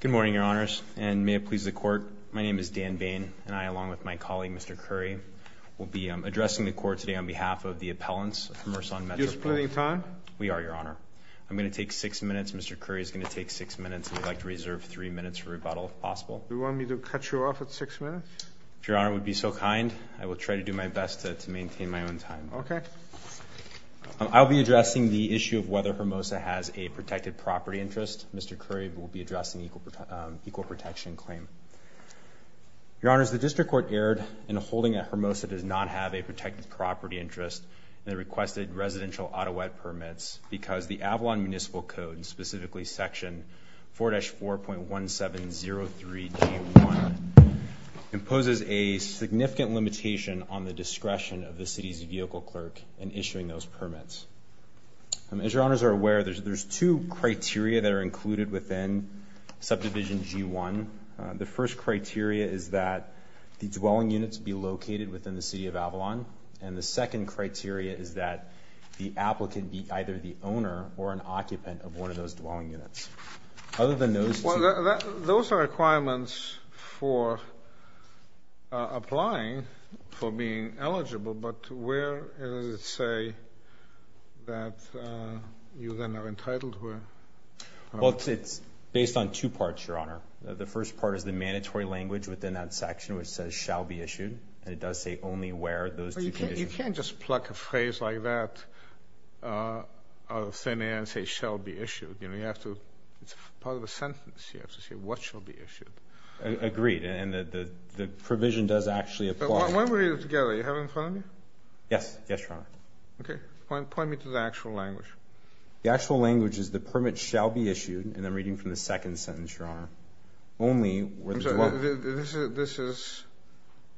Good morning, Your Honors, and may it please the Court, my name is Dan Bain, and I along with my colleague, Mr. Currie, will be addressing the Court today on behalf of the appellants from Ursa on Metropole. Are you splitting time? We are, Your Honor. I'm going to take six minutes. Mr. Currie is going to take six minutes, and we'd like to reserve three minutes for rebuttal if possible. Do you want me to cut you off at six minutes? If Your Honor would be so kind, I will try to do my best to maintain my own time. Okay. I'll be addressing the issue of whether Hermosa has a protected property interest. Mr. Currie will be addressing the equal protection claim. Your Honors, the District Court erred in holding that Hermosa does not have a protected property interest and requested residential Ottawa permits because the Avalon Municipal Code, specifically Section 4-4.1703.1, imposes a significant limitation on the discretion of the City's Vehicle Clerk in issuing those permits. As Your Honors are aware, there's two criteria that are included within Subdivision G-1. The first criteria is that the dwelling units be located within the City of Avalon, and the second criteria is that the applicant be either the owner or an occupant of one of those dwelling units. Other than those two... Those are requirements for applying for being eligible, but where does it say that you then are entitled to it? It's based on two parts, Your Honor. The first part is the mandatory language within that section which says, shall be issued, and it does say only where those two conditions... You can't just pluck a phrase like that out of thin air and say, shall be issued. It's part of a sentence. You have to say, what shall be issued? Agreed, and the provision does actually apply. When we read it together, you have it in front of you? Yes. Yes, Your Honor. Point me to the actual language. The actual language is the permit shall be issued, and I'm reading from the second sentence, Your Honor, only where the dwelling... This is,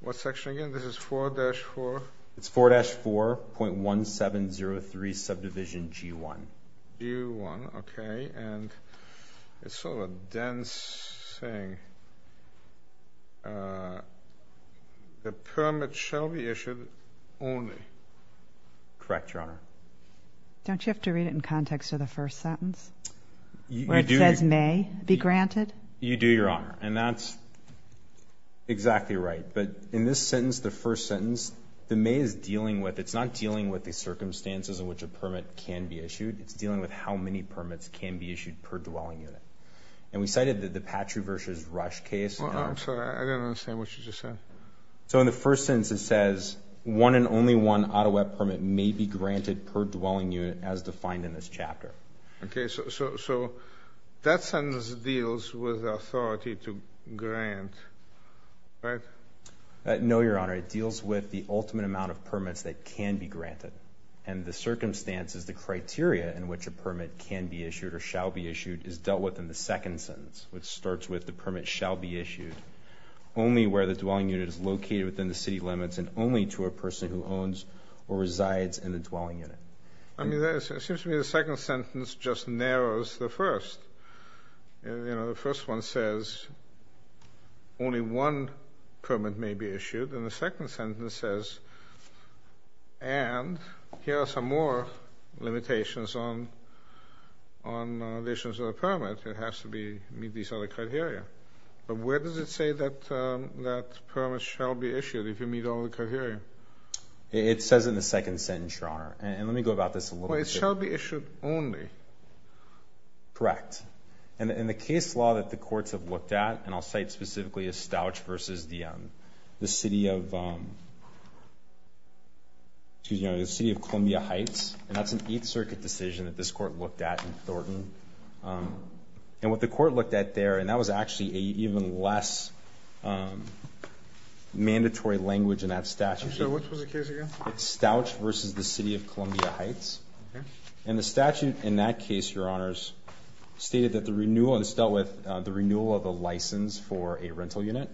what section again, this is 4-4... It's 4-4.1703, Subdivision G-1. G-1, okay. And it's sort of a dense thing. The permit shall be issued only. Correct, Your Honor. Don't you have to read it in context of the first sentence? Where it says may be granted? You do, Your Honor, and that's exactly right. But in this sentence, the first sentence, the may is dealing with, it's not dealing with the circumstances in which a permit can be issued. It's dealing with how many permits can be issued per dwelling unit. And we cited that the Patru versus Rush case... I'm sorry, I didn't understand what you just said. So in the first sentence, it says one and only one Ottawa permit may be granted per dwelling unit as defined in this chapter. Okay, so that sentence deals with authority to grant, right? No, Your Honor, it deals with the ultimate amount of permits that can be granted, and the circumstances, the criteria in which a permit can be issued or shall be issued is dealt with in the second sentence, which starts with the permit shall be issued only where the dwelling unit is located within the city limits and only to a person who owns or resides in the dwelling unit. I mean, it seems to me the second sentence just narrows the first. You know, the first one says only one permit may be issued. And the second sentence says, and here are some more limitations on additions of a permit. It has to meet these other criteria. But where does it say that permits shall be issued if you meet all the criteria? It says in the second sentence, Your Honor. And let me go about this a little bit. Well, it shall be issued only. Correct. And in the case law that the courts have looked at, and I'll cite specifically a Stouch versus the city of, excuse me, the city of Columbia Heights. And that's an Eighth Circuit decision that this court looked at in Thornton. And what the court looked at there, and that was actually an even less mandatory language in that statute. I'm sorry, which was the case again? It's Stouch versus the city of Columbia Heights. And the statute in that case, Your Honors, stated that the renewal is dealt with the renewal of a license for a rental unit.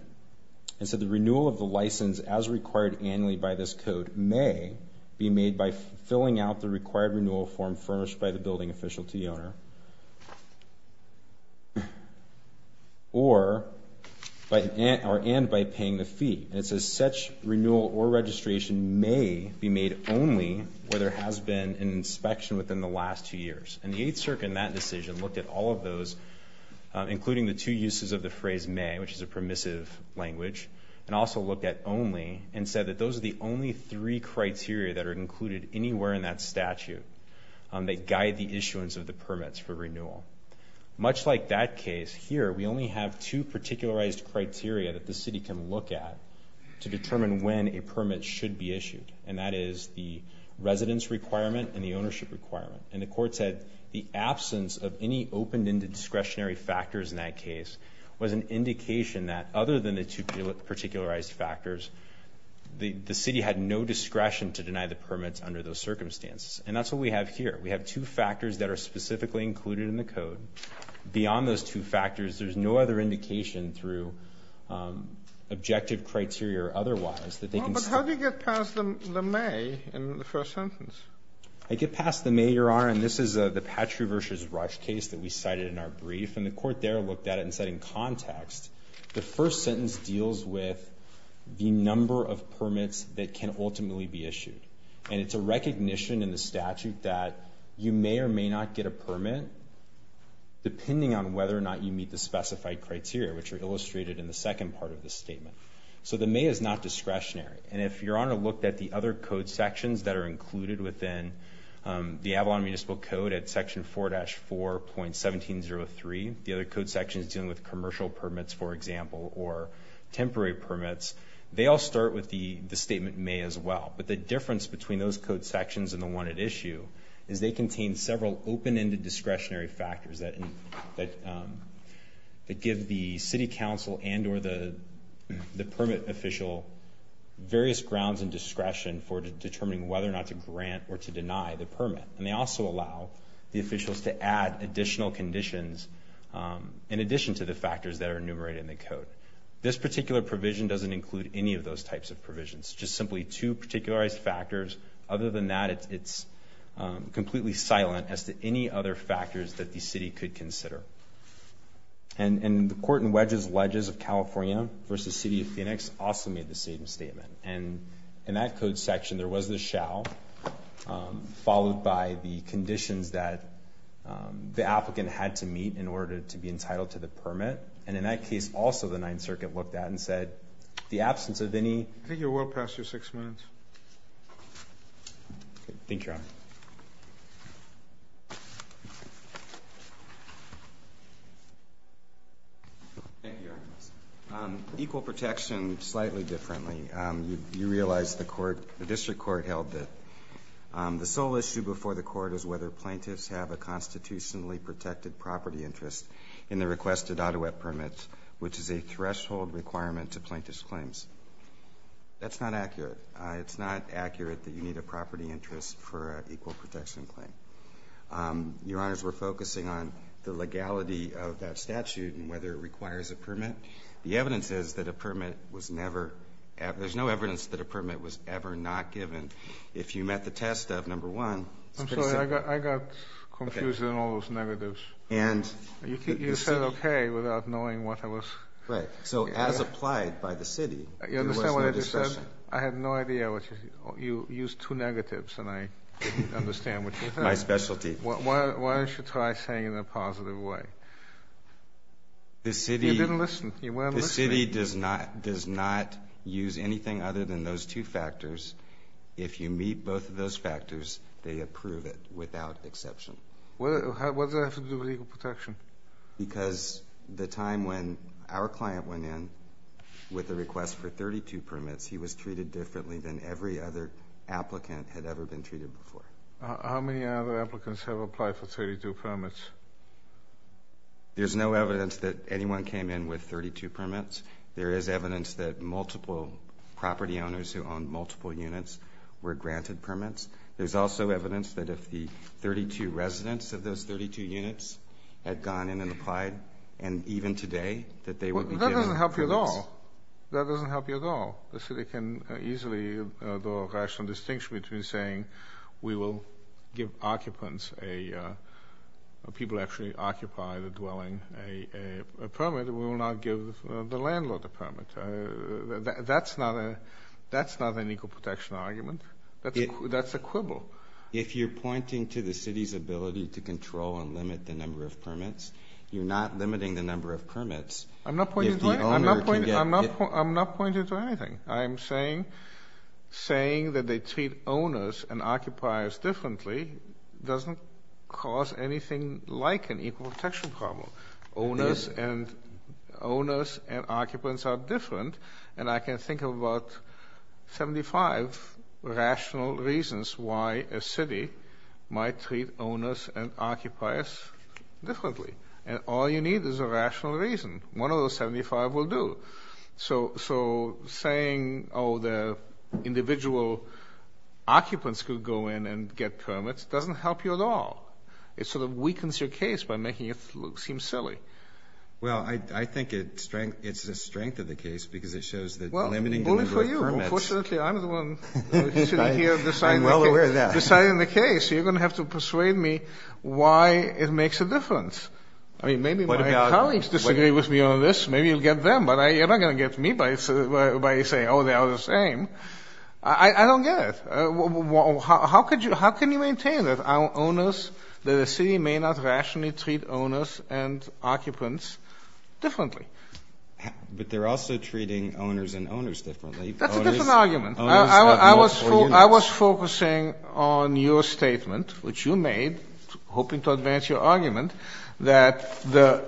And so the renewal of the license, as required annually by this code, may be made by filling out the required renewal form furnished by the building official to the owner. Or, and by paying the fee. And it says such renewal or registration may be made only where there has been an inspection within the last two years. And the Eighth Circuit in that decision looked at all of those, including the two uses of the phrase may, which is a permissive language, and also looked at only, and said that those are the only three criteria that are included anywhere in that statute that guide the issuance of the permits for renewal. Much like that case, here we only have two particularized criteria that the city can look at to determine when a permit should be issued. And that is the residence requirement and the ownership requirement. And the court said the absence of any opened-ended discretionary factors in that case was an indication that, other than the two particularized factors, the city had no discretion to deny the permits under those circumstances. And that's what we have here. We have two factors that are specifically included in the code. Beyond those two factors, there's no other indication through objective criteria or otherwise that they can... But how do you get past the may in the first sentence? I get past the may, Your Honor, and this is the Patru versus Rush case that we cited in our brief. And the court there looked at it and said, in context, the first sentence deals with the number of permits that can ultimately be issued. And it's a recognition in the statute that you may or may not get a permit depending on whether or not you meet the specified criteria, which are illustrated in the second part of the statement. So the may is not discretionary. And if Your Honor looked at the other code sections that are included within the Avalon Municipal Code at Section 4-4.1703, the other code sections dealing with commercial permits, for example, or temporary permits, they all start with the statement may as well. But the difference between those code sections and the one at issue is they contain several open-ended discretionary factors that give the city council and or the permit official various grounds and discretion for determining whether or not to grant or to deny the permit. And they also allow the officials to add additional conditions in addition to the factors that are enumerated in the code. This particular provision doesn't include any of those types of provisions. Just simply two particularized factors. Other than that, it's completely silent as to any other factors that the city could consider. And the Court in Wedges-Ledges of California v. City of Phoenix also made the same statement. And in that code section, there was the shall, followed by the conditions that the applicant had to meet in order to be entitled to the permit. And in that case, also the Ninth Circuit looked at and said, the absence of any... I think you're well past your six minutes. Thank you, Your Honor. Thank you, Your Honor. Equal protection, slightly differently. You realize the District Court held that the sole issue before the Court is whether plaintiffs have a constitutionally protected property interest in the requested Ottawa permit, which is a threshold requirement to plaintiff's claims. That's not accurate. It's not accurate that you need a property interest for an equal protection claim. Your Honors, we're focusing on the legality of that statute and whether it requires a permit. The evidence is that a permit was never... There's no evidence that a permit was ever not given. If you met the test of, number one... I'm sorry, I got confused in all those negatives. And... You said okay without knowing what I was... Right, so as applied by the city, there was no discussion. You understand what I just said? I had no idea what you... You used two negatives and I didn't understand what you said. That's my specialty. Why don't you try saying it in a positive way? The city... You didn't listen. You weren't listening. The city does not use anything other than those two factors. If you meet both of those factors, they approve it without exception. What does that have to do with equal protection? Because the time when our client went in with a request for 32 permits, he was treated differently than every other applicant had ever been treated before. How many other applicants have applied for 32 permits? There's no evidence that anyone came in with 32 permits. There is evidence that multiple property owners who owned multiple units were granted permits. There's also evidence that if the 32 residents of those 32 units had gone in and applied, and even today, that they would be given permits. That doesn't help you at all. That doesn't help you at all. The city can easily do a rational distinction between saying, we will give occupants, people who actually occupy the dwelling, a permit. We will not give the landlord a permit. That's not an equal protection argument. That's a quibble. If you're pointing to the city's ability to control and limit the number of permits, you're not limiting the number of permits. I'm not pointing to anything. I'm saying that they treat owners and occupiers differently doesn't cause anything like an equal protection problem. Owners and occupants are different, and I can think of about 75 rational reasons why a city might treat owners and occupiers differently. And all you need is a rational reason. One of those 75 will do. So saying, oh, the individual occupants could go in and get permits, doesn't help you at all. It sort of weakens your case by making it seem silly. Well, I think it's a strength of the case because it shows that limiting the number of permits Well, only for you. Unfortunately, I'm the one sitting here deciding the case. You're going to have to persuade me why it makes a difference. I mean, maybe my colleagues disagree with me on this. Maybe you'll get them, but you're not going to get me by saying, oh, they are the same. I don't get it. How can you maintain that the city may not rationally treat owners and occupants differently? But they're also treating owners and owners differently. That's a different argument. I was focusing on your statement, which you made, hoping to advance your argument, that the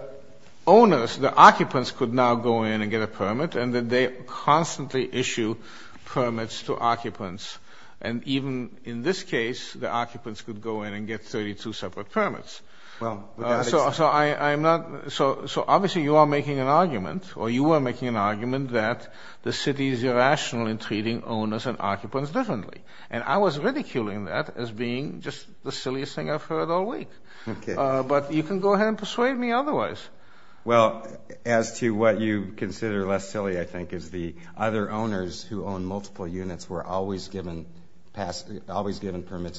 owners, the occupants, could now go in and get a permit, and that they constantly issue permits to occupants. And even in this case, the occupants could go in and get 32 separate permits. So obviously you are making an argument, or you were making an argument, that the city is irrational in treating owners and occupants differently. And I was ridiculing that as being just the silliest thing I've heard all week. But you can go ahead and persuade me otherwise. Well, as to what you consider less silly, I think, is the other owners who own multiple units were always given permits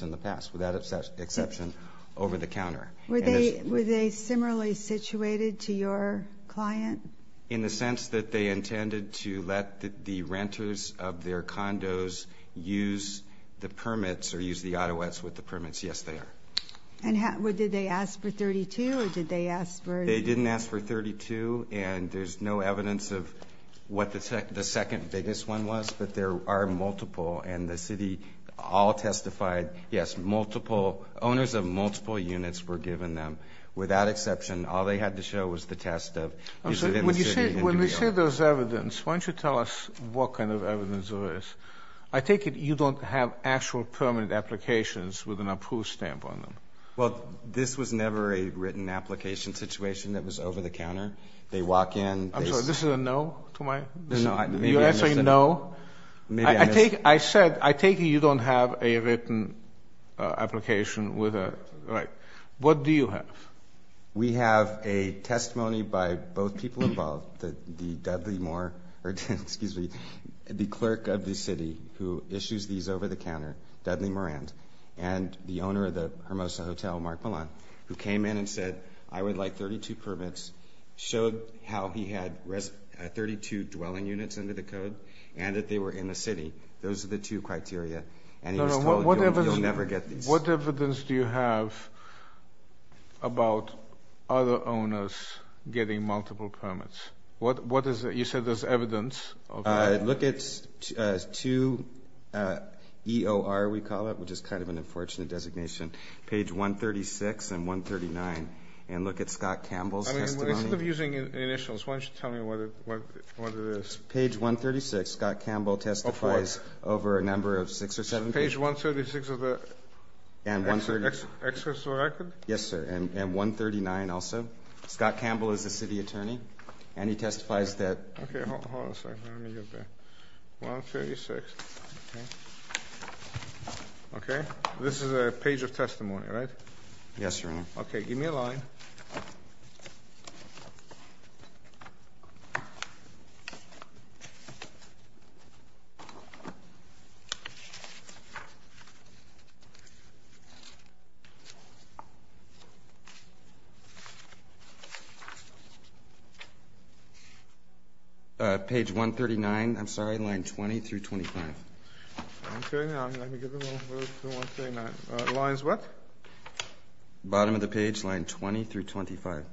in the past, without exception, over the counter. Were they similarly situated to your client? In the sense that they intended to let the renters of their condos use the permits, or use the Ottawa's with the permits. Yes, they are. And did they ask for 32, or did they ask for... They didn't ask for 32, and there's no evidence of what the second biggest one was. But there are multiple, and the city all testified, yes, multiple, owners of multiple units were given them. Without exception, all they had to show was the test of... When you say there's evidence, why don't you tell us what kind of evidence there is. I take it you don't have actual permanent applications with an approved stamp on them. Well, this was never a written application situation that was over the counter. They walk in... I'm sorry, this is a no to my... No. You're answering no? I take it you don't have a written application with a... What do you have? We have a testimony by both people involved, the Dudley Moore, excuse me, the clerk of the city who issues these over the counter, Dudley Morant, and the owner of the Hermosa Hotel, Mark Milan, who came in and said, I would like 32 permits, showed how he had 32 dwelling units under the code, and that they were in the city. Those are the two criteria, and he was told you'll never get these. What evidence do you have about other owners getting multiple permits? What is it? You said there's evidence. Look at two EOR, we call it, which is kind of an unfortunate designation, page 136 and 139, and look at Scott Campbell's testimony. Instead of using initials, why don't you tell me what it is? Page 136, Scott Campbell testifies over a number of six or seven... Page 136 of the excess record? Yes, sir, and 139 also. Scott Campbell is the city attorney, and he testifies that... Okay, hold on a second, let me get that. 136, okay. This is a page of testimony, right? Yes, Your Honor. Okay, give me a line. Page 139, I'm sorry, line 20 through 25. Okay, now, let me give it a little move to 139. Lines what? Bottom of the page, line 20 through 25.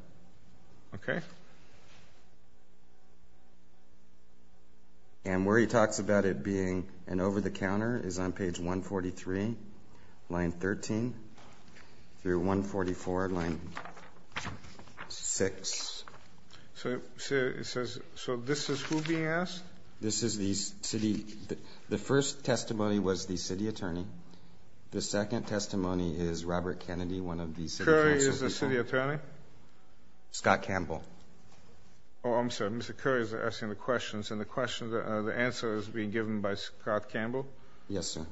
Okay. And where he talks about it being an over-the-counter is on page 143, line 13 through 144, line... Six. So this is who being asked? This is the city... The first testimony was the city attorney. The second testimony is Robert Kennedy, one of the city council people. Curry is the city attorney? Scott Campbell. Oh, I'm sorry, Mr. Curry is asking the questions, and the answer is being given by Scott Campbell? Yes, sir.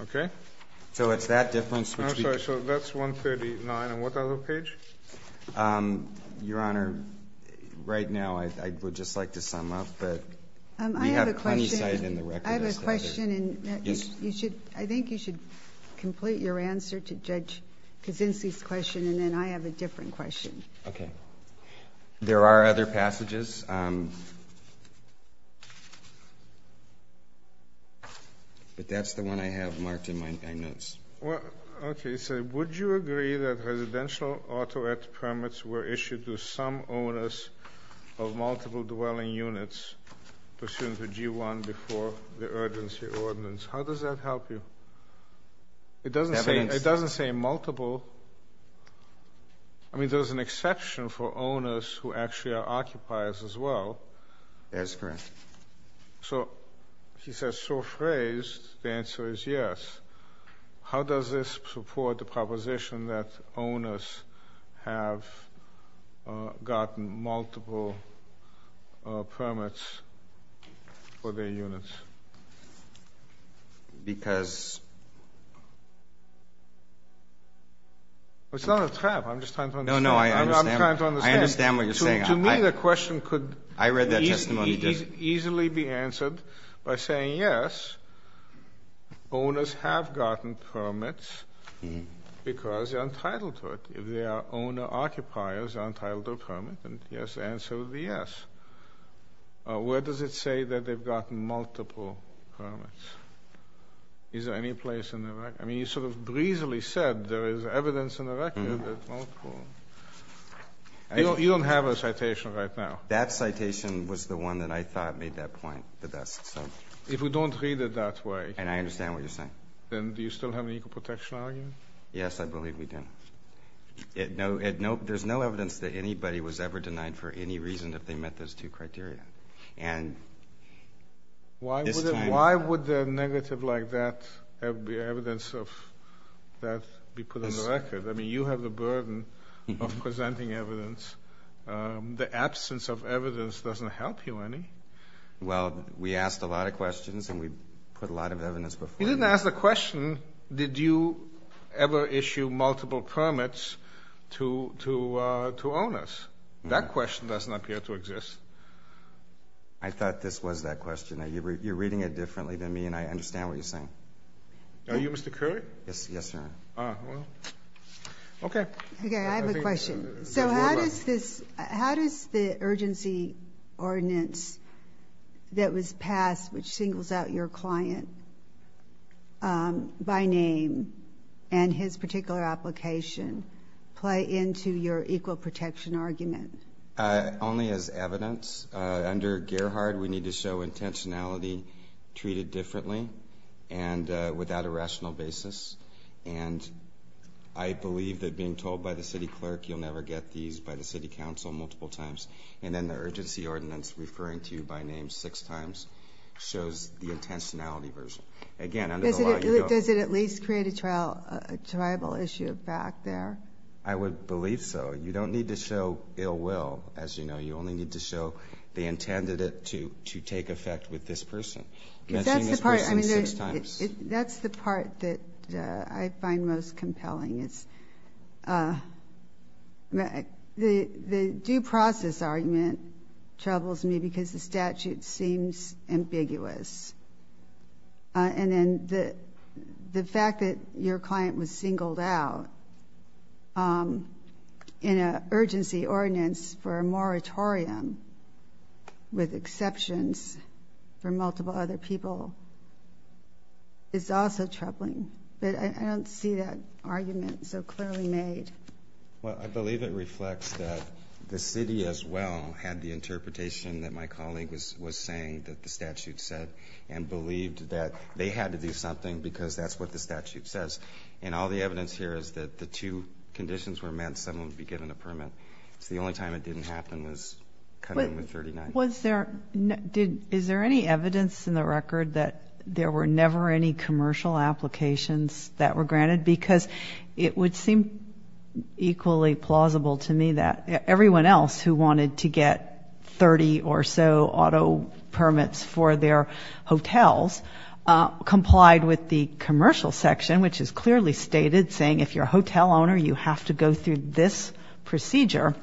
Okay. So it's that difference... I'm sorry, so that's 139, and what other page? Your Honor, right now, I would just like to sum up, but... I have a question. We have plenty cited in the record. I have a question, and I think you should complete your answer to Judge Kuczynski's question, and then I have a different question. Okay. There are other passages. But that's the one I have marked in my notes. Okay, so would you agree that residential auto-ed permits were issued to some owners of multiple dwelling units pursuant to G-1 before the urgency ordinance? How does that help you? It doesn't say multiple... I mean, there's an exception for owners who actually are occupiers as well. That's correct. So he says, so phrased, the answer is yes. How does this support the proposition that owners have gotten multiple permits for their units? Because... It's not a trap. I'm just trying to understand. No, no, I understand. I'm trying to understand. I understand what you're saying. To me, the question could... I read that testimony. ...easily be answered by saying, yes, owners have gotten permits because they're entitled to it. If they are owner-occupiers, they're entitled to a permit, and yes, the answer would be yes. Where does it say that they've gotten multiple permits? Is there any place in the record? I mean, you sort of breezily said there is evidence in the record that multiple... You don't have a citation right now. That citation was the one that I thought made that point the best. If we don't read it that way... And I understand what you're saying. ...then do you still have an equal protection argument? Yes, I believe we do. There's no evidence that anybody was ever denied for any reason if they met those two criteria. And this time... Why would a negative like that be evidence of that be put on the record? I mean, you have the burden of presenting evidence. The absence of evidence doesn't help you any. Well, we asked a lot of questions, and we put a lot of evidence before you. You didn't ask the question, did you ever issue multiple permits to owners? That question doesn't appear to exist. I thought this was that question. You're reading it differently than me, and I understand what you're saying. Are you Mr. Curry? Yes, sir. Ah, well. Okay. Okay, I have a question. So how does this... How does the urgency ordinance that was passed, which singles out your client by name and his particular application play into your equal protection argument? Only as evidence. Under Gerhard, we need to show intentionality treated differently and without a rational basis. And I believe that being told by the city clerk you'll never get these by the city council multiple times. And then the urgency ordinance referring to you by name six times shows the intentionality version. Does it at least create a tribal issue back there? I would believe so. You don't need to show ill will, as you know. You only need to show they intended it to take effect with this person. That's the part that I find most compelling. The due process argument troubles me because the statute seems ambiguous. And then the fact that your client was singled out in an urgency ordinance for a moratorium with exceptions for multiple other people is also troubling. But I don't see that argument so clearly made. Well, I believe it reflects that the city as well had the interpretation that my colleague was saying that the statute said and believed that they had to do something because that's what the statute says. And all the evidence here is that the two conditions were met and someone would be given a permit. So the only time it didn't happen was coming in with 39. Is there any evidence in the record that there were never any commercial applications that were granted? Because it would seem equally plausible to me that everyone else who wanted to get 30 or so auto permits for their hotels complied with the commercial section, which is clearly stated saying if you're a hotel owner, you have to go through this procedure.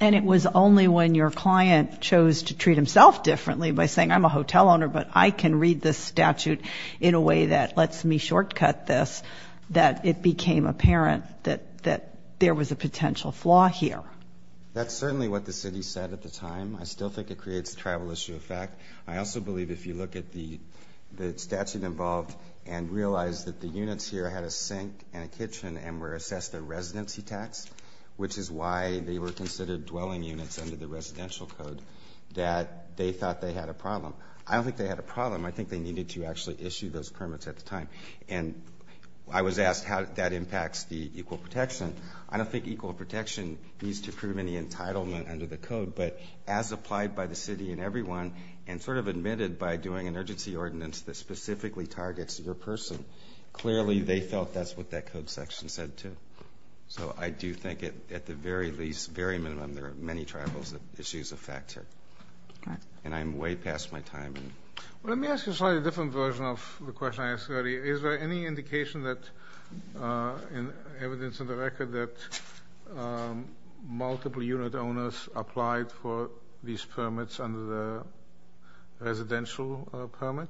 And it was only when your client chose to treat himself differently by saying I'm a hotel owner, but I can read this statute in a way that lets me shortcut this, that it became apparent that there was a potential flaw here. That's certainly what the city said at the time. I still think it creates a tribal issue of fact. I also believe if you look at the statute involved and realize that the units here had a sink and a kitchen and were assessed a residency tax, which is why they were considered dwelling units under the residential code, that they thought they had a problem. I don't think they had a problem. I think they needed to actually issue those permits at the time. And I was asked how that impacts the equal protection. I don't think equal protection needs to prove any entitlement under the code, but as applied by the city and everyone, and sort of admitted by doing an urgency ordinance that specifically targets your person, clearly they felt that's what that code section said too. So I do think at the very least, very minimum, there are many tribal issues of fact here. And I'm way past my time. Let me ask you a slightly different version of the question I asked earlier. Is there any indication, evidence in the record, that multiple unit owners applied for these permits under the residential permit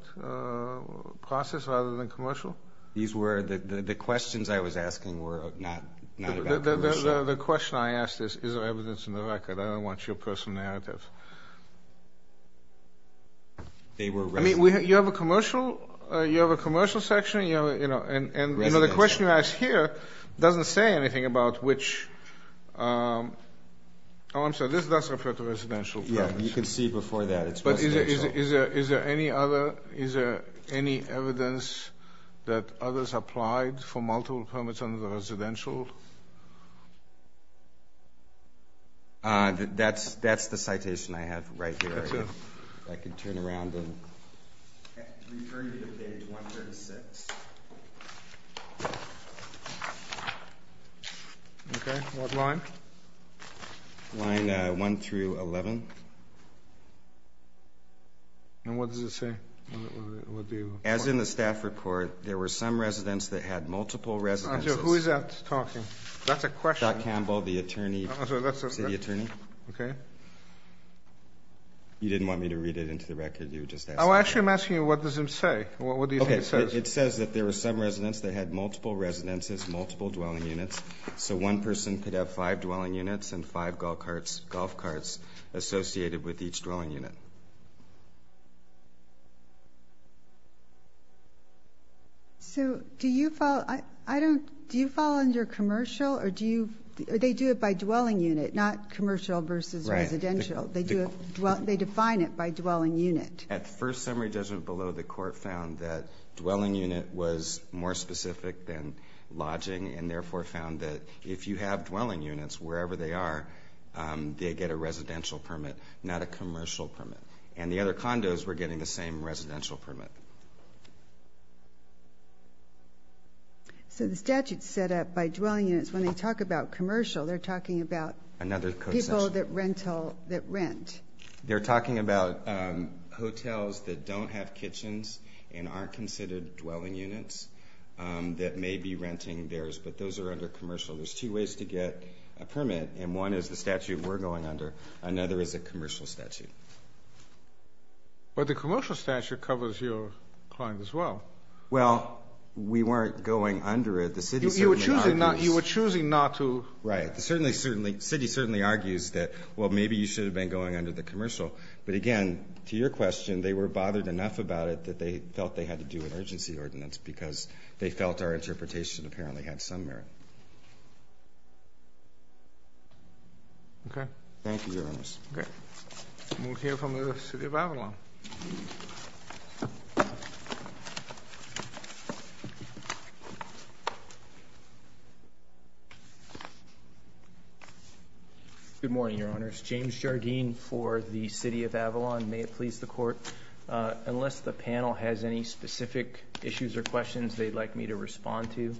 process rather than commercial? The questions I was asking were not about commercial. The question I asked is, is there evidence in the record? I don't want your personal narrative. They were residential. I mean, you have a commercial section, and the question you asked here doesn't say anything about which. Oh, I'm sorry, this does refer to residential. Yeah, you can see before that it's residential. But is there any evidence that others applied for multiple permits under the residential? That's the citation I have right here. That's it. If I could turn around and return you to page 136. Okay, what line? Line 1 through 11. And what does it say? As in the staff report, there were some residents that had multiple residences. Who is that talking? That's a question. Scott Campbell, the attorney. City attorney. Okay. You didn't want me to read it into the record? Oh, actually, I'm asking you what does it say? What do you think it says? It says that there were some residents that had multiple residences, multiple dwelling units. So one person could have five dwelling units and five golf carts associated with each dwelling unit. Okay. So do you follow, I don't, do you follow under commercial or do you, they do it by dwelling unit, not commercial versus residential. They do it, they define it by dwelling unit. At first summary judgment below, the court found that dwelling unit was more specific than lodging and therefore found that if you have dwelling units, wherever they are, they get a residential permit, not a commercial permit. And the other condos were getting the same residential permit. So the statute's set up by dwelling units. When they talk about commercial, they're talking about people that rental, that rent. They're talking about hotels that don't have kitchens and aren't considered dwelling units that may be renting theirs, but those are under commercial. There's two ways to get a permit. And one is the statute we're going under. Another is a commercial statute. But the commercial statute covers your client as well. Well, we weren't going under it. The city certainly argues. You were choosing not to. Right. The city certainly argues that, well, maybe you should have been going under the commercial. But again, to your question, they were bothered enough about it that they felt they had to do an urgency ordinance because they felt our interpretation apparently had some merit. Okay. Thank you, Your Honors. Okay. We'll hear from the City of Avalon. Good morning, Your Honors. James Jardine for the City of Avalon. May it please the Court. Unless the panel has any specific issues or questions they'd like me to respond to,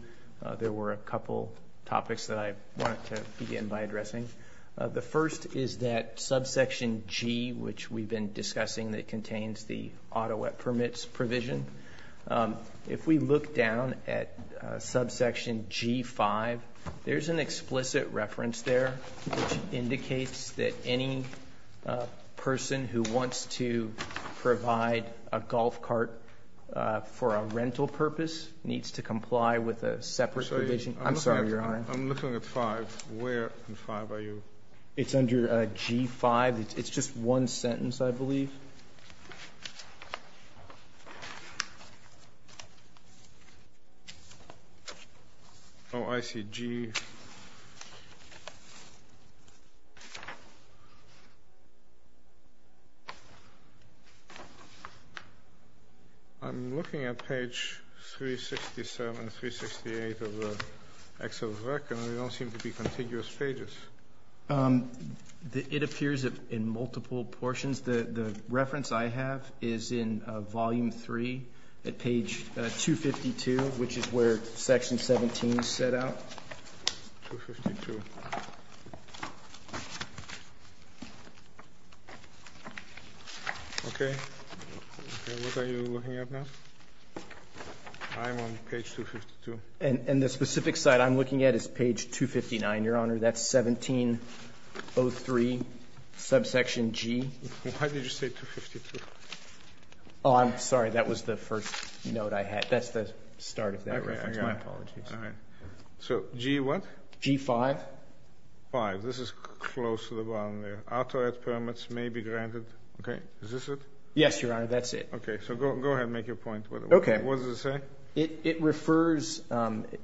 there were a couple topics that I wanted to begin by addressing. The first is that subsection G, which we've been discussing, that contains the Ottawa permits provision. If we look down at subsection G-5, there's an explicit reference there which indicates that any person who wants to provide a golf cart for a rental purpose needs to comply with a separate provision. I'm sorry, Your Honor. I'm looking at 5. Where in 5 are you? It's under G-5. It's just one sentence, I believe. Oh, I see. Subsection G. I'm looking at page 367, 368 of Excel's record, and there don't seem to be contiguous pages. It appears in multiple portions. The reference I have is in volume 3 at page 252, which is where section 17 is set out. Okay. What are you looking at now? I'm on page 252. And the specific site I'm looking at is page 259, Your Honor. That's 1703, subsection G. Why did you say 252? Oh, I'm sorry. That was the first note I had. That's the start of that reference. My apologies. So, G what? G-5. 5. This is close to the bottom there. Ottawa permits may be granted. Okay. Is this it? Yes, Your Honor. That's it. Okay. So go ahead and make your point. What does it say? It refers,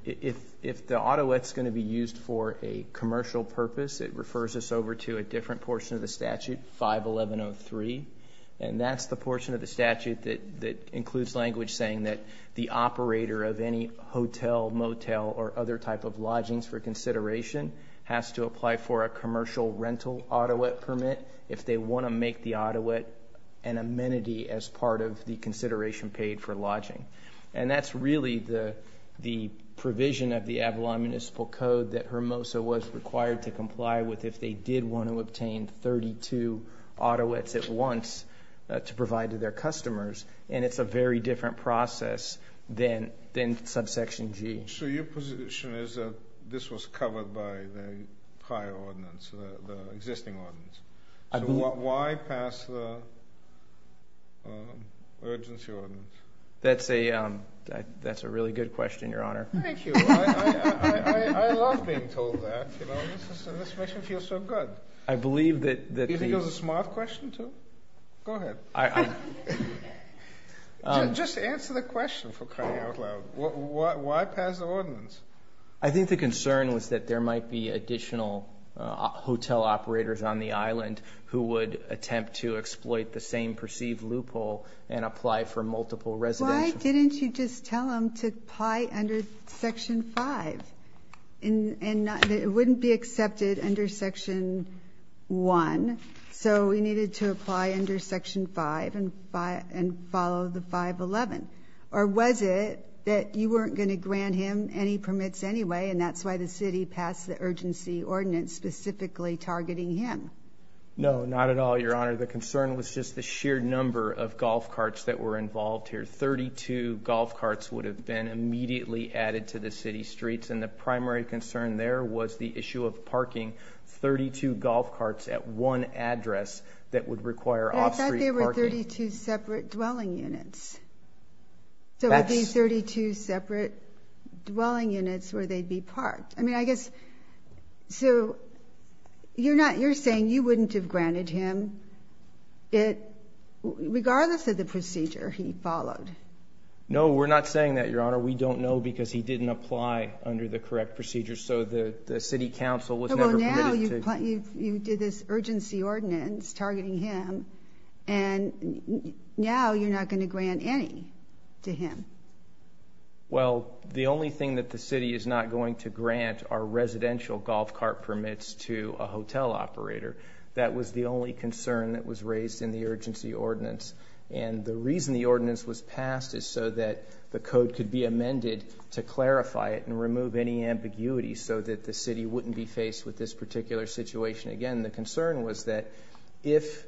if the Ottawa is going to be used for a commercial purpose, it refers us over to a different portion of the statute, 51103. And that's the portion of the statute that includes language saying that the operator of any hotel, motel, or other type of lodgings for consideration has to apply for a commercial rental Ottawa permit if they want to make the Ottawa an amenity as part of the consideration paid for lodging. And that's really the provision of the Avalon Municipal Code that Hermosa was required to comply with if they did want to obtain 32 Ottawas at once to provide to their customers. And it's a very different process than subsection G. So your position is that this was covered by the prior ordinance, the existing ordinance. Why pass the urgency ordinance? That's a really good question, Your Honor. Thank you. I love being told that. You know, this makes me feel so good. I believe that... Do you think it was a smart question, too? Go ahead. Just answer the question for crying out loud. Why pass the ordinance? I think the concern was that there might be additional hotel operators on the island who would attempt to exploit the same perceived loophole and apply for multiple residential... Why didn't you just tell him to apply under Section 5? It wouldn't be accepted under Section 1. So he needed to apply under Section 5 and follow the 511. Or was it that you weren't going to grant him any permits anyway, and that's why the city passed the urgency ordinance specifically targeting him? No, not at all, Your Honor. The concern was just the sheer number of golf carts that were involved here. Thirty-two golf carts would have been immediately added to the city streets, and the primary concern there was the issue of parking 32 golf carts at one address that would require off-street parking. But I thought there were 32 separate dwelling units, so these 32 separate dwelling units where they'd be parked. I mean, I guess, so you're saying you wouldn't have granted him, regardless of the procedure he followed? No, we're not saying that, Your Honor. We don't know because he didn't apply under the correct procedure, so the city council was never permitted to... Well, now you did this urgency ordinance targeting him, and now you're not going to grant any to him. Well, the only thing that the city is not going to grant are residential golf cart permits to a hotel operator. That was the only concern that was raised in the urgency ordinance, and the reason the ordinance was passed is so that the code could be amended to clarify it and remove any ambiguity so that the city wouldn't be faced with this particular situation again. The concern was that if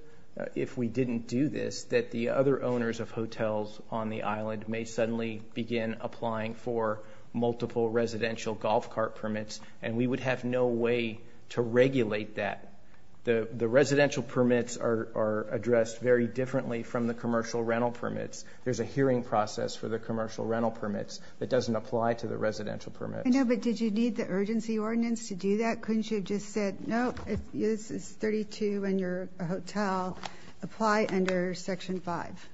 we didn't do this, that the other owners of hotels on the island may suddenly begin applying for multiple residential golf cart permits, and we would have no way to regulate that. The residential permits are addressed very differently from the commercial rental permits. There's a hearing process for the commercial rental permits that doesn't apply to the residential permits. I know, but did you need the urgency ordinance to do that? Couldn't you have just said, no, this is 32, and you're a hotel. Apply under Section 5.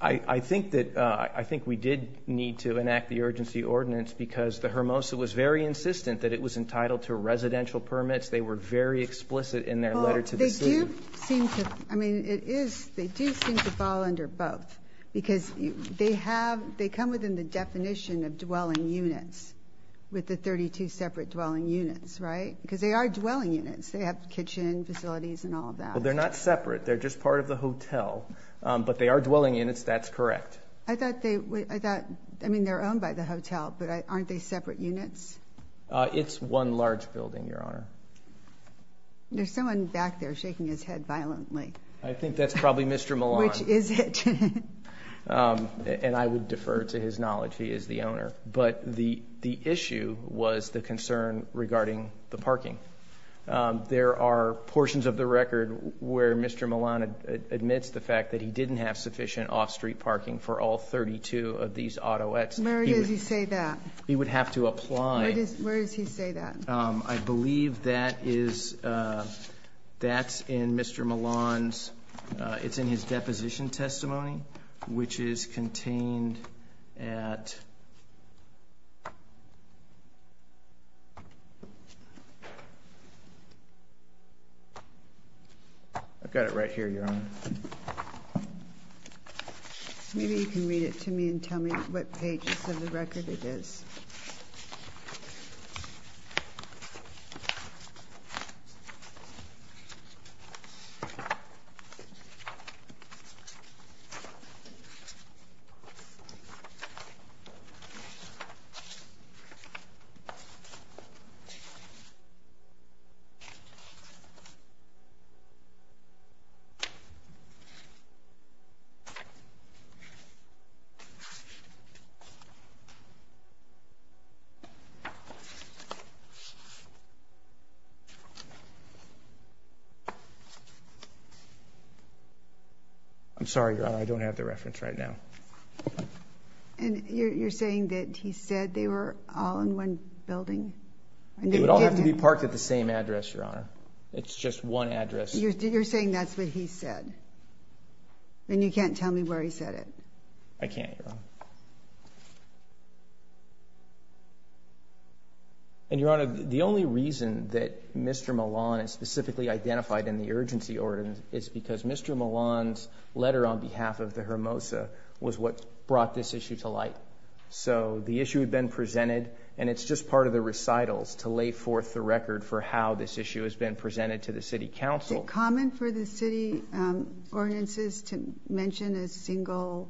I think that we did need to enact the urgency ordinance because the HRMOSA was very insistent that it was entitled to residential permits. They were very explicit in their letter to the city. Well, they do seem to fall under both because they come within the definition of dwelling units with the 32 separate dwelling units, right? Because they are dwelling units. They have kitchen facilities and all of that. Well, they're not separate. They're just part of the hotel, but they are dwelling units. That's correct. I thought, I mean, they're owned by the hotel, but aren't they separate units? It's one large building, Your Honor. There's someone back there shaking his head violently. I think that's probably Mr. Milan. Which is it? And I would defer to his knowledge. He is the owner. But the issue was the concern regarding the parking. There are portions of the record where Mr. Milan admits the fact that he didn't have sufficient off-street parking for all 32 of these autoettes. Where does he say that? He would have to apply. Where does he say that? I believe that's in Mr. Milan's, it's in his deposition testimony, which is contained at I've got it right here, Your Honor. Maybe you can read it to me and tell me what pages of the record it is. I'm sorry, Your Honor, I don't have the reference right now. And you're saying that he said they were all in one building? They would all have to be parked at the same address, Your Honor. It's just one address. You're saying that's what he said? And you can't tell me where he said it? I can't, Your Honor. And Your Honor, the only reason that Mr. Milan is specifically identified in the urgency ordinance is because Mr. Milan's letter on behalf of the Hermosa was what brought this issue to light. So the issue had been presented, and it's just part of the recitals to lay forth the record for how this issue has been presented to the city council. Is it common for the city ordinances to mention a single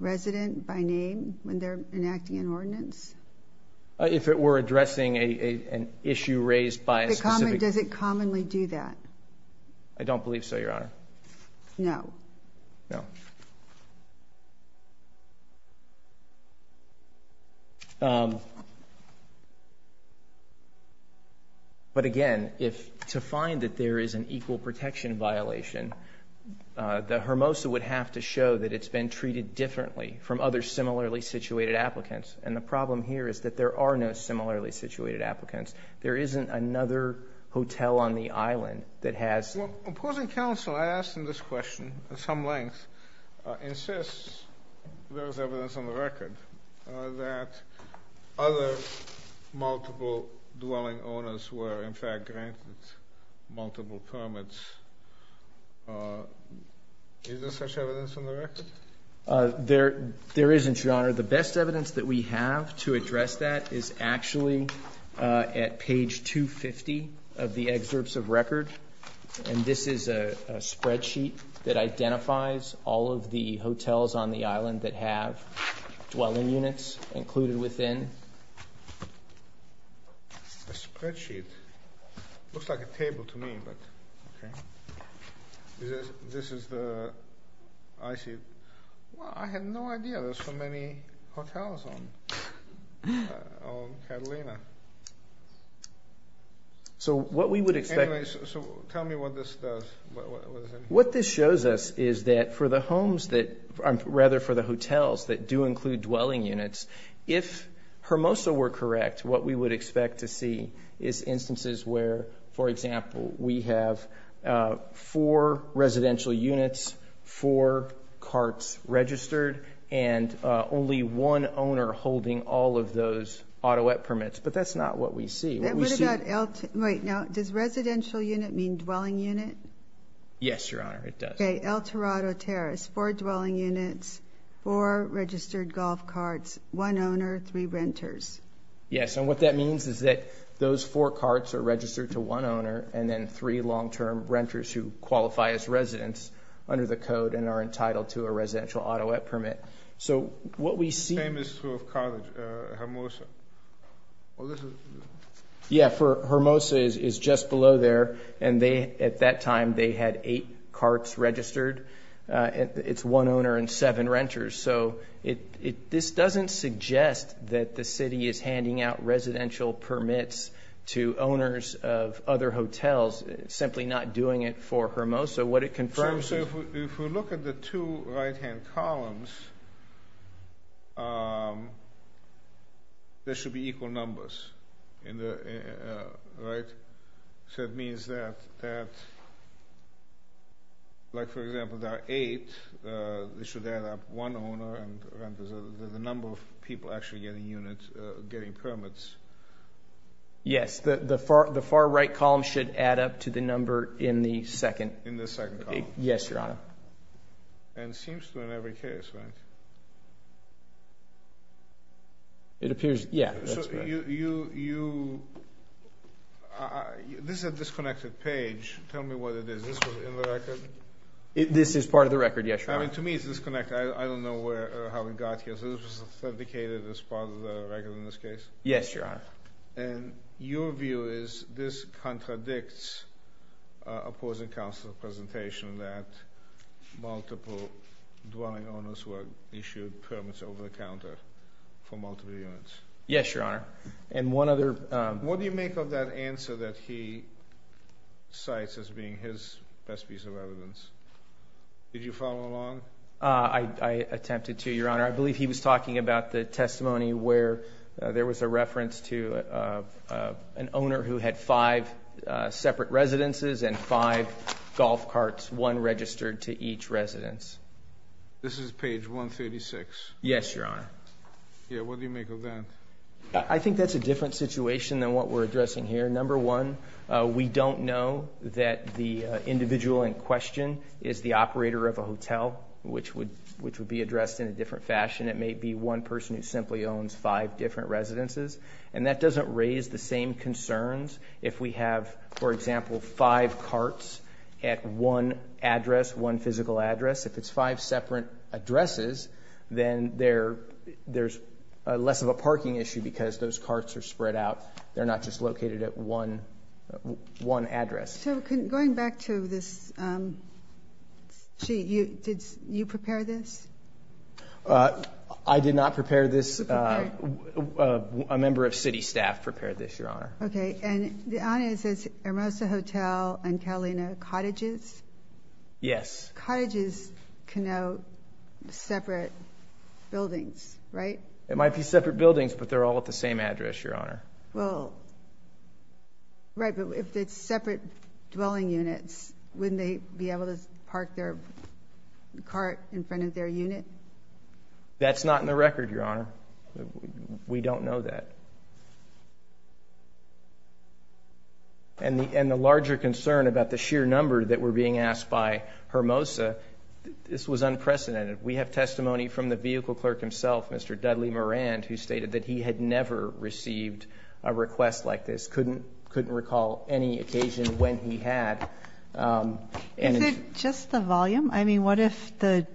resident by name when they're enacting an ordinance? If it were addressing an issue raised by a specific... Does it commonly do that? I don't believe so, Your Honor. No. No. But again, to find that there is an equal protection violation, the Hermosa would have to show that it's been treated differently from other similarly situated applicants. And the problem here is that there are no similarly situated applicants. There isn't another hotel on the island that has... Well, opposing counsel asked in this question at some length insists there is evidence on the record that other multiple dwelling owners were in fact granted multiple permits. Is there such evidence on the record? The best evidence that we have to address that is actually at page 250 of the excerpts of record. And this is a spreadsheet that identifies all of the hotels on the island that have dwelling units included within. A spreadsheet? Looks like a table to me, but... Okay. This is the... I see. Well, I had no idea there's so many hotels on Catalina. So what we would expect... Anyway, so tell me what this does. What this shows us is that for the homes that... Rather, for the hotels that do include dwelling units, if Hermosa were correct, what we would expect to see is instances where, for example, we have four residential units, four carts registered, and only one owner holding all of those auto permits. But that's not what we see. What we see... Wait, now, does residential unit mean dwelling unit? Yes, Your Honor, it does. Okay, El Torado Terrace, four dwelling units, four registered golf carts, one owner, three renters. Yes, and what that means is that those four carts are registered to one owner, and then three long-term renters who qualify as residents under the code and are entitled to a residential auto permit. So what we see... Same is true of Hermosa. Well, this is... Yeah, Hermosa is just below there. And at that time, they had eight carts registered. It's one owner and seven renters. So this doesn't suggest that the city is handing out residential permits to owners of other hotels, simply not doing it for Hermosa. What it confirms is... So if we look at the two right-hand columns, there should be equal numbers, right? So it means that, like for example, there are eight, they should add up one owner and renters, the number of people actually getting permits. Yes, the far right column should add up to the number in the second. In the second column. Yes, Your Honor. And seems to in every case, right? It appears... Yeah, that's right. You... This is a disconnected page. Tell me what it is. This was in the record? This is part of the record, yes, Your Honor. I mean, to me, it's disconnected. I don't know how it got here. So this was authenticated as part of the record in this case? Yes, Your Honor. And your view is this contradicts opposing counsel's presentation that multiple dwelling owners were issued permits over the counter for multiple units? Yes, Your Honor. And one other... What do you make of that answer that he cites as being his best piece of evidence? Did you follow along? I attempted to, Your Honor. I believe he was talking about the testimony where there was a reference to an owner who had five separate residences and five golf carts, one registered to each residence. This is page 136. Yes, Your Honor. Yeah, what do you make of that? I think that's a different situation than what we're addressing here. Number one, we don't know that the individual in question is the operator of a hotel, which would be addressed in a different fashion. It may be one person who simply owns five different residences. And that doesn't raise the same concerns if we have, for example, five carts at one address, one physical address. If it's five separate addresses, then there's less of a parking issue because those carts are spread out. They're not just located at one address. So going back to this sheet, did you prepare this? I did not prepare this. A member of city staff prepared this, Your Honor. OK, and the honor says Hermosa Hotel and Carolina Cottages? Yes. Cottages can know separate buildings, right? It might be separate buildings, but they're all at the same address, Your Honor. Well, right. But if it's separate dwelling units, wouldn't they be able to park their cart in front of their unit? That's not in the record, Your Honor. We don't know that. And the larger concern about the sheer number that were being asked by Hermosa, this was unprecedented. We have testimony from the vehicle clerk himself, Mr. Dudley Moran, who stated that he had never received a request like this. Couldn't recall any occasion when he had. Is it just the volume? I mean, what if the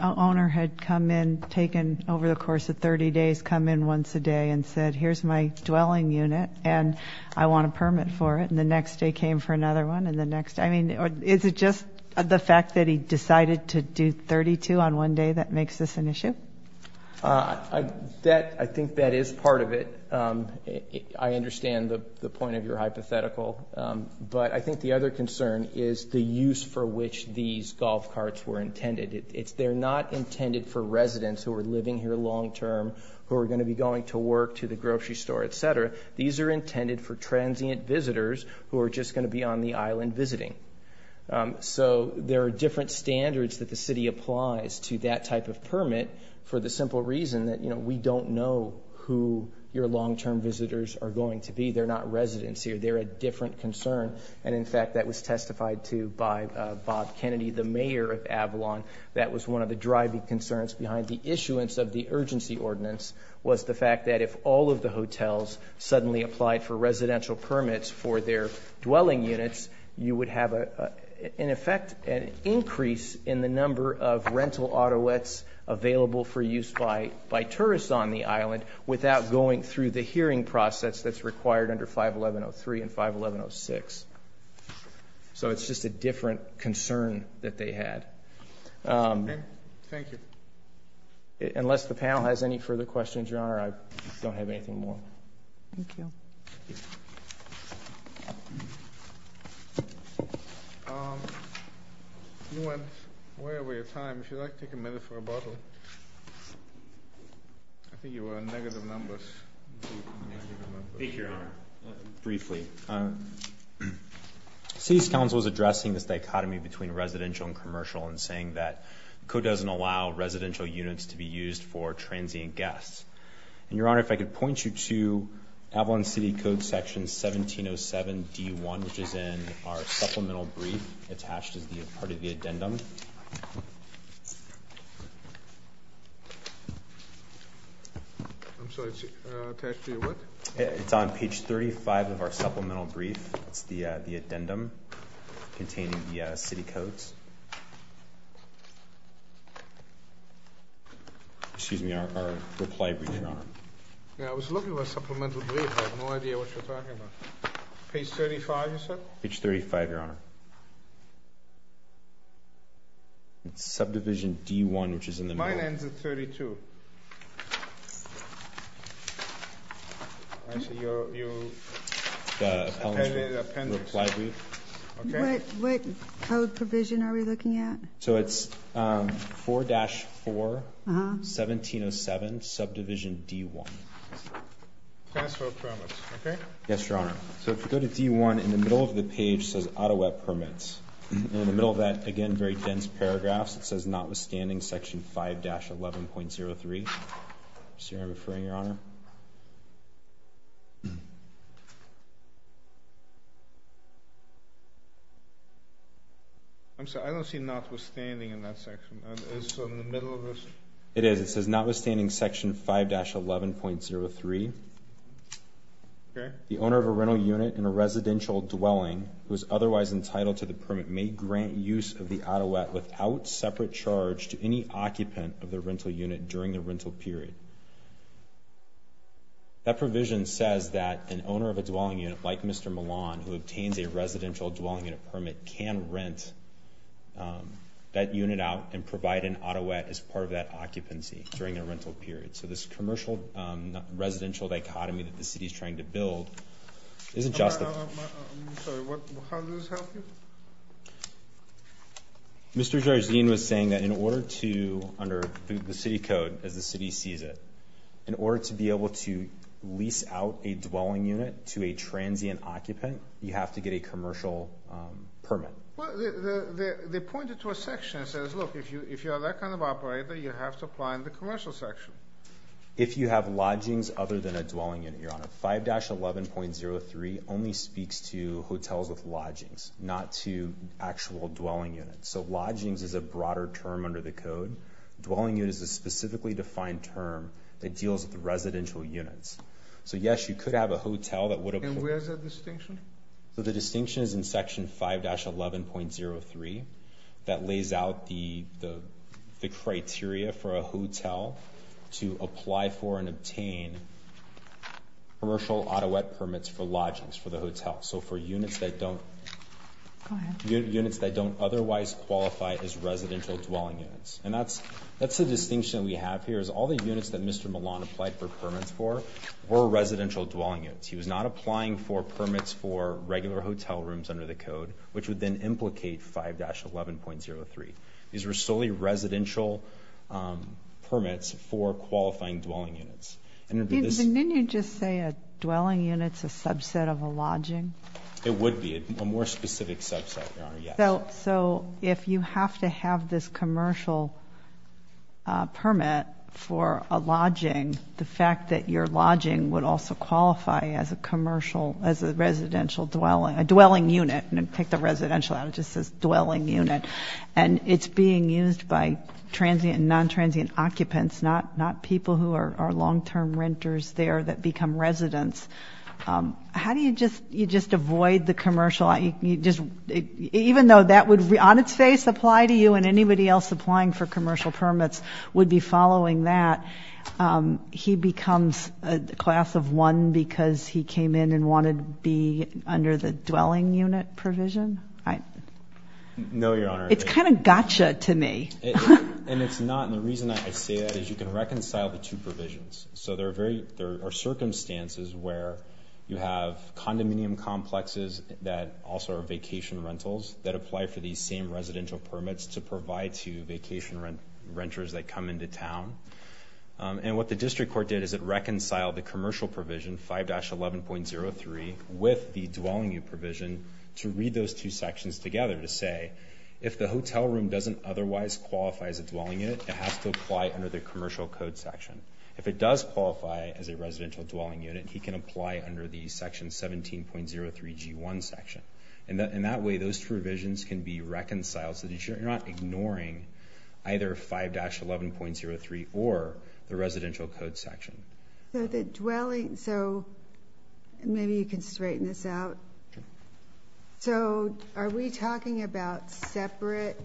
owner had come in, taken over the course of 30 days, come in once a day and said, here's my dwelling unit and I want a permit for it? And the next day came for another one and the next. I mean, is it just the fact that he decided to do 32 on one day that makes this an issue? I think that is part of it. I understand the point of your hypothetical. But I think the other concern is the use for which these golf carts were intended. They're not intended for residents who are living here long term, who are going to be going to work, to the grocery store, etc. These are intended for transient visitors who are just going to be on the island visiting. So there are different standards that the city applies to that type of permit for the simple reason that we don't know who your long term visitors are going to be. They're not residents here. They're a different concern. And in fact, that was testified to by Bob Kennedy, the mayor of Avalon. That was one of the driving concerns behind the issuance of the urgency ordinance was the fact that if all of the hotels suddenly applied for residential permits for their dwelling units, you would have, in effect, an increase in the number of rental autoweds available for the city in 51106, so it's just a different concern that they had. Thank you. Unless the panel has any further questions, your honor, I don't have anything more. Thank you. You went way over your time. If you'd like to take a minute for a bottle. I think you were on negative numbers. Thank you, your honor. Briefly, city's council is addressing this dichotomy between residential and commercial and saying that the code doesn't allow residential units to be used for transient guests. And your honor, if I could point you to Avalon City Code section 1707 D1, which is in our supplemental brief attached as part of the addendum. I'm sorry, it's attached to your what? It's on page 35 of our supplemental brief. It's the addendum containing the city codes. Excuse me, our reply brief, your honor. Yeah, I was looking for a supplemental brief, I have no idea what you're talking about. Page 35, you said? Page 35, your honor. It's subdivision D1, which is in the middle. My name's at 32. I see your appendix, okay. What code provision are we looking at? So it's 4-4-1707 subdivision D1. Password permits, okay? Yes, your honor. So if you go to D1, in the middle of the page says Auto Web Permits. In the middle of that, again, very dense paragraphs. It says notwithstanding section 5-11.03. Is your honor referring, your honor? I'm sorry, I don't see notwithstanding in that section. Is it in the middle of this? It is, it says notwithstanding section 5-11.03. Okay. The owner of a rental unit in a residential dwelling who is otherwise entitled to the permit may grant use of the Auto Web without separate charge to any occupant of the rental unit during the rental period. That provision says that an owner of a dwelling unit, like Mr. Milan, who obtains a residential dwelling unit permit, can rent that unit out and provide an Auto Web as part of that occupancy during a rental period. So this commercial residential dichotomy that the city's trying to build isn't just- I'm sorry, how does this help you? Mr. Jarzin was saying that in order to, under the city code, as the city sees it, in order to be able to lease out a dwelling unit to a transient occupant, you have to get a commercial permit. Well, they pointed to a section that says, look, if you are that kind of operator, you have to apply in the commercial section. 5-11.03 only speaks to hotels with lodgings, not to actual dwelling units. So lodgings is a broader term under the code. Dwelling units is a specifically defined term that deals with residential units. So yes, you could have a hotel that would- And where's that distinction? So the distinction is in section 5-11.03 that lays out the criteria for a hotel to apply for and obtain commercial Ottawa permits for lodgings for the hotel. So for units that don't- Go ahead. Units that don't otherwise qualify as residential dwelling units. And that's the distinction we have here, is all the units that Mr. Milan applied for permits for were residential dwelling units. He was not applying for permits for regular hotel rooms under the code, which would then implicate 5-11.03. These were solely residential permits for qualifying dwelling units. And this- Didn't you just say a dwelling unit's a subset of a lodging? It would be, a more specific subset, Your Honor, yes. So if you have to have this commercial permit for a lodging, the fact that your lodging would also qualify as a residential dwelling, a dwelling unit, and then take the residential out, it just says dwelling unit. And it's being used by transient and non-transient occupants, not people who are long-term renters there that become residents. How do you just avoid the commercial? Even though that would, on its face, apply to you, and anybody else applying for commercial permits would be following that. He becomes a class of one because he came in and wanted to be under the dwelling unit provision? I- No, Your Honor. It's kind of gotcha to me. And it's not, and the reason that I say that is you can reconcile the two provisions. So there are circumstances where you have condominium complexes that also are vacation rentals that apply for these same residential permits to provide to vacation renters that come into town. And what the district court did is it reconciled the commercial provision, 5-11.03, with the dwelling unit provision to read those two sections together to say, if the hotel room doesn't otherwise qualify as a dwelling unit, it has to apply under the commercial code section. If it does qualify as a residential dwelling unit, he can apply under the section 17.03 G1 section. And in that way, those provisions can be reconciled. So you're not ignoring either 5-11.03 or the residential code section. So the dwelling, so maybe you can straighten this out. So are we talking about separate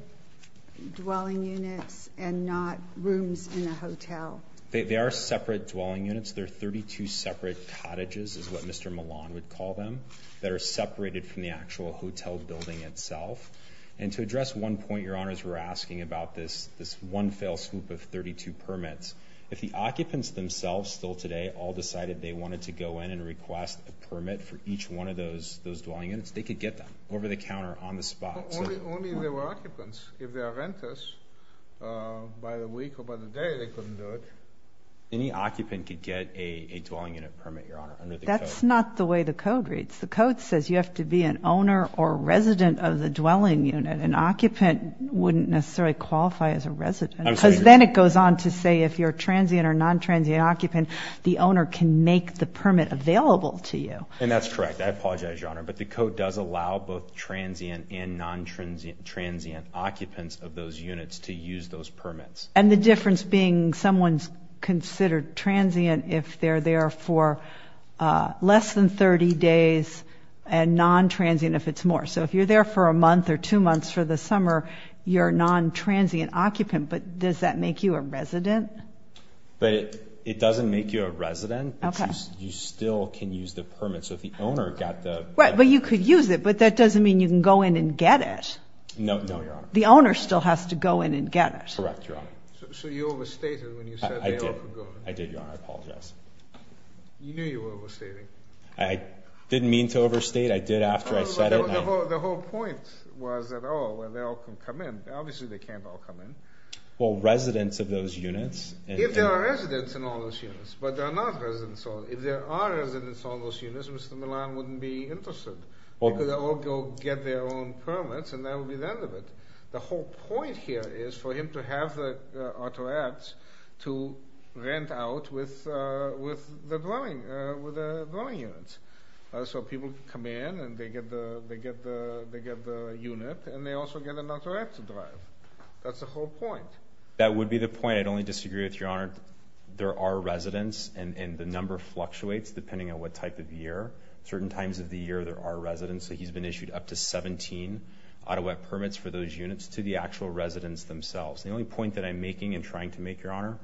dwelling units and not rooms in a hotel? They are separate dwelling units. They're 32 separate cottages, is what Mr. Milan would call them, that are separated from the actual hotel building itself. And to address one point, Your Honors, we're asking about this one fail swoop of 32 permits. If the occupants themselves, still today, all decided they wanted to go in and request a permit for each one of those dwelling units, they could get them over the counter on the spot. Only if they were occupants. If they are renters, by the week or by the day, they couldn't do it. Any occupant could get a dwelling unit permit, Your Honor, under the code. That's not the way the code reads. The code says you have to be an owner or resident of the dwelling unit. An occupant wouldn't necessarily qualify as a resident. Because then it goes on to say if you're a transient or non-transient occupant, the owner can make the permit available to you. And that's correct. I apologize, Your Honor. But the code does allow both transient and non-transient occupants of those units to use those permits. And the difference being someone's considered transient if they're there for less than 30 days and non-transient if it's more. So if you're there for a month or two months for the summer, you're a non-transient occupant, but does that make you a resident? But it doesn't make you a resident, but you still can use the permit. So if the owner got the- Right, but you could use it, but that doesn't mean you can go in and get it. No, no, Your Honor. The owner still has to go in and get it. Correct, Your Honor. So you overstated when you said they all could go in. I did, Your Honor, I apologize. You knew you were overstating. I didn't mean to overstate. I did after I said it. The whole point was that, oh, well, they all can come in. Obviously, they can't all come in. Well, residents of those units- If there are residents in all those units, but there are not residents. If there are residents in all those units, Mr. Milan wouldn't be interested. They could all go get their own permits, and that would be the end of it. The whole point here is for him to have the auto ads to rent out with the dwelling units. So people can come in, and they get the unit, and they also get an auto ad to drive. That's the whole point. That would be the point. I'd only disagree with Your Honor. There are residents, and the number fluctuates depending on what type of year. Certain times of the year, there are residents. So he's been issued up to 17 Ottawa permits for those units to the actual residents themselves. The only point that I'm making and trying to make, Your Honor,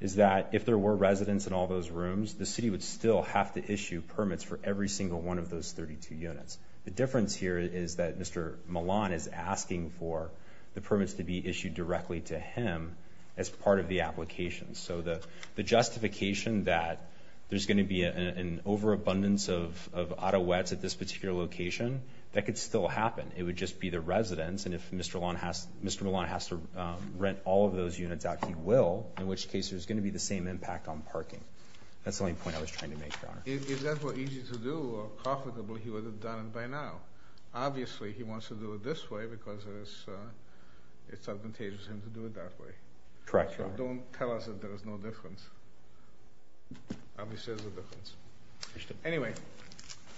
is that if there were residents in all those rooms, the city would still have to issue permits for every single one of those 32 units. The difference here is that Mr. Milan is asking for the permits to be issued directly to him as part of the application. So the justification that there's going to be an overabundance of auto ads at this particular location, that could still happen. It would just be the residents, and if Mr. Milan has to rent all of those units out, he will, in which case there's going to be the same impact on parking. That's the only point I was trying to make, Your Honor. If that were easy to do or profitable, he would have done it by now. Obviously, he wants to do it this way because it's advantageous for him to do it that way. Correct, Your Honor. Don't tell us that there's no difference. Obviously, there's a difference. Anyway.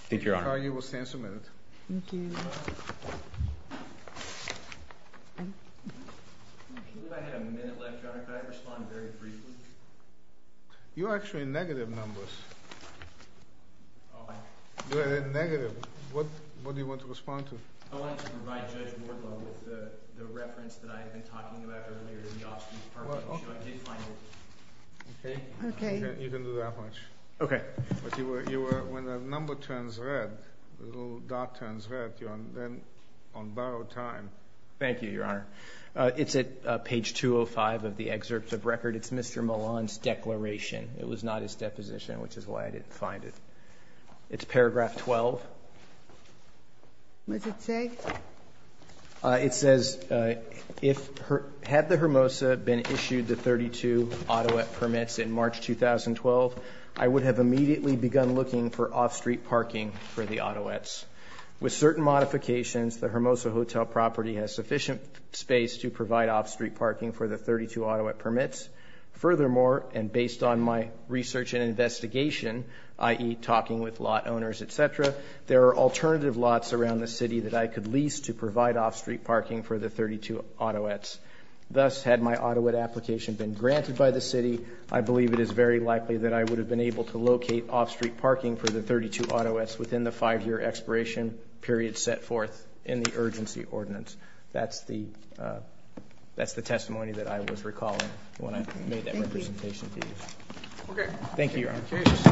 Thank you, Your Honor. You will stand submitted. Thank you. I had a minute left, Your Honor. Could I respond very briefly? You're actually in negative numbers. You're in negative. What do you want to respond to? I wanted to provide Judge Morton with the reference that I had been talking about earlier in the options part of the issue. I did find it. Okay. Okay. You can do that much. Okay. But you were, when the number turns red, the little dot turns red, you're on borrowed time. Thank you, Your Honor. It's at page 205 of the excerpts of record. It's Mr. Milan's declaration. It was not his deposition, which is why I didn't find it. It's paragraph 12. What does it say? It says, had the Hermosa been issued the 32 Ottawa permits in March 2012, I would have immediately begun looking for off-street parking for the Ottawa. With certain modifications, the Hermosa Hotel property has sufficient space to provide off-street parking for the 32 Ottawa permits. Furthermore, and based on my research and investigation, i.e., talking with lot owners, etc., there are alternative lots around the city that I could lease to provide off-street parking for the 32 Ottawa. Thus, had my Ottawa application been granted by the city, I believe it is very likely that I would have been able to locate off-street parking for the 32 Ottawa within the five-year expiration period set forth in the urgency ordinance. That's the testimony that I was recalling when I made that representation to you. Thank you, Your Honor.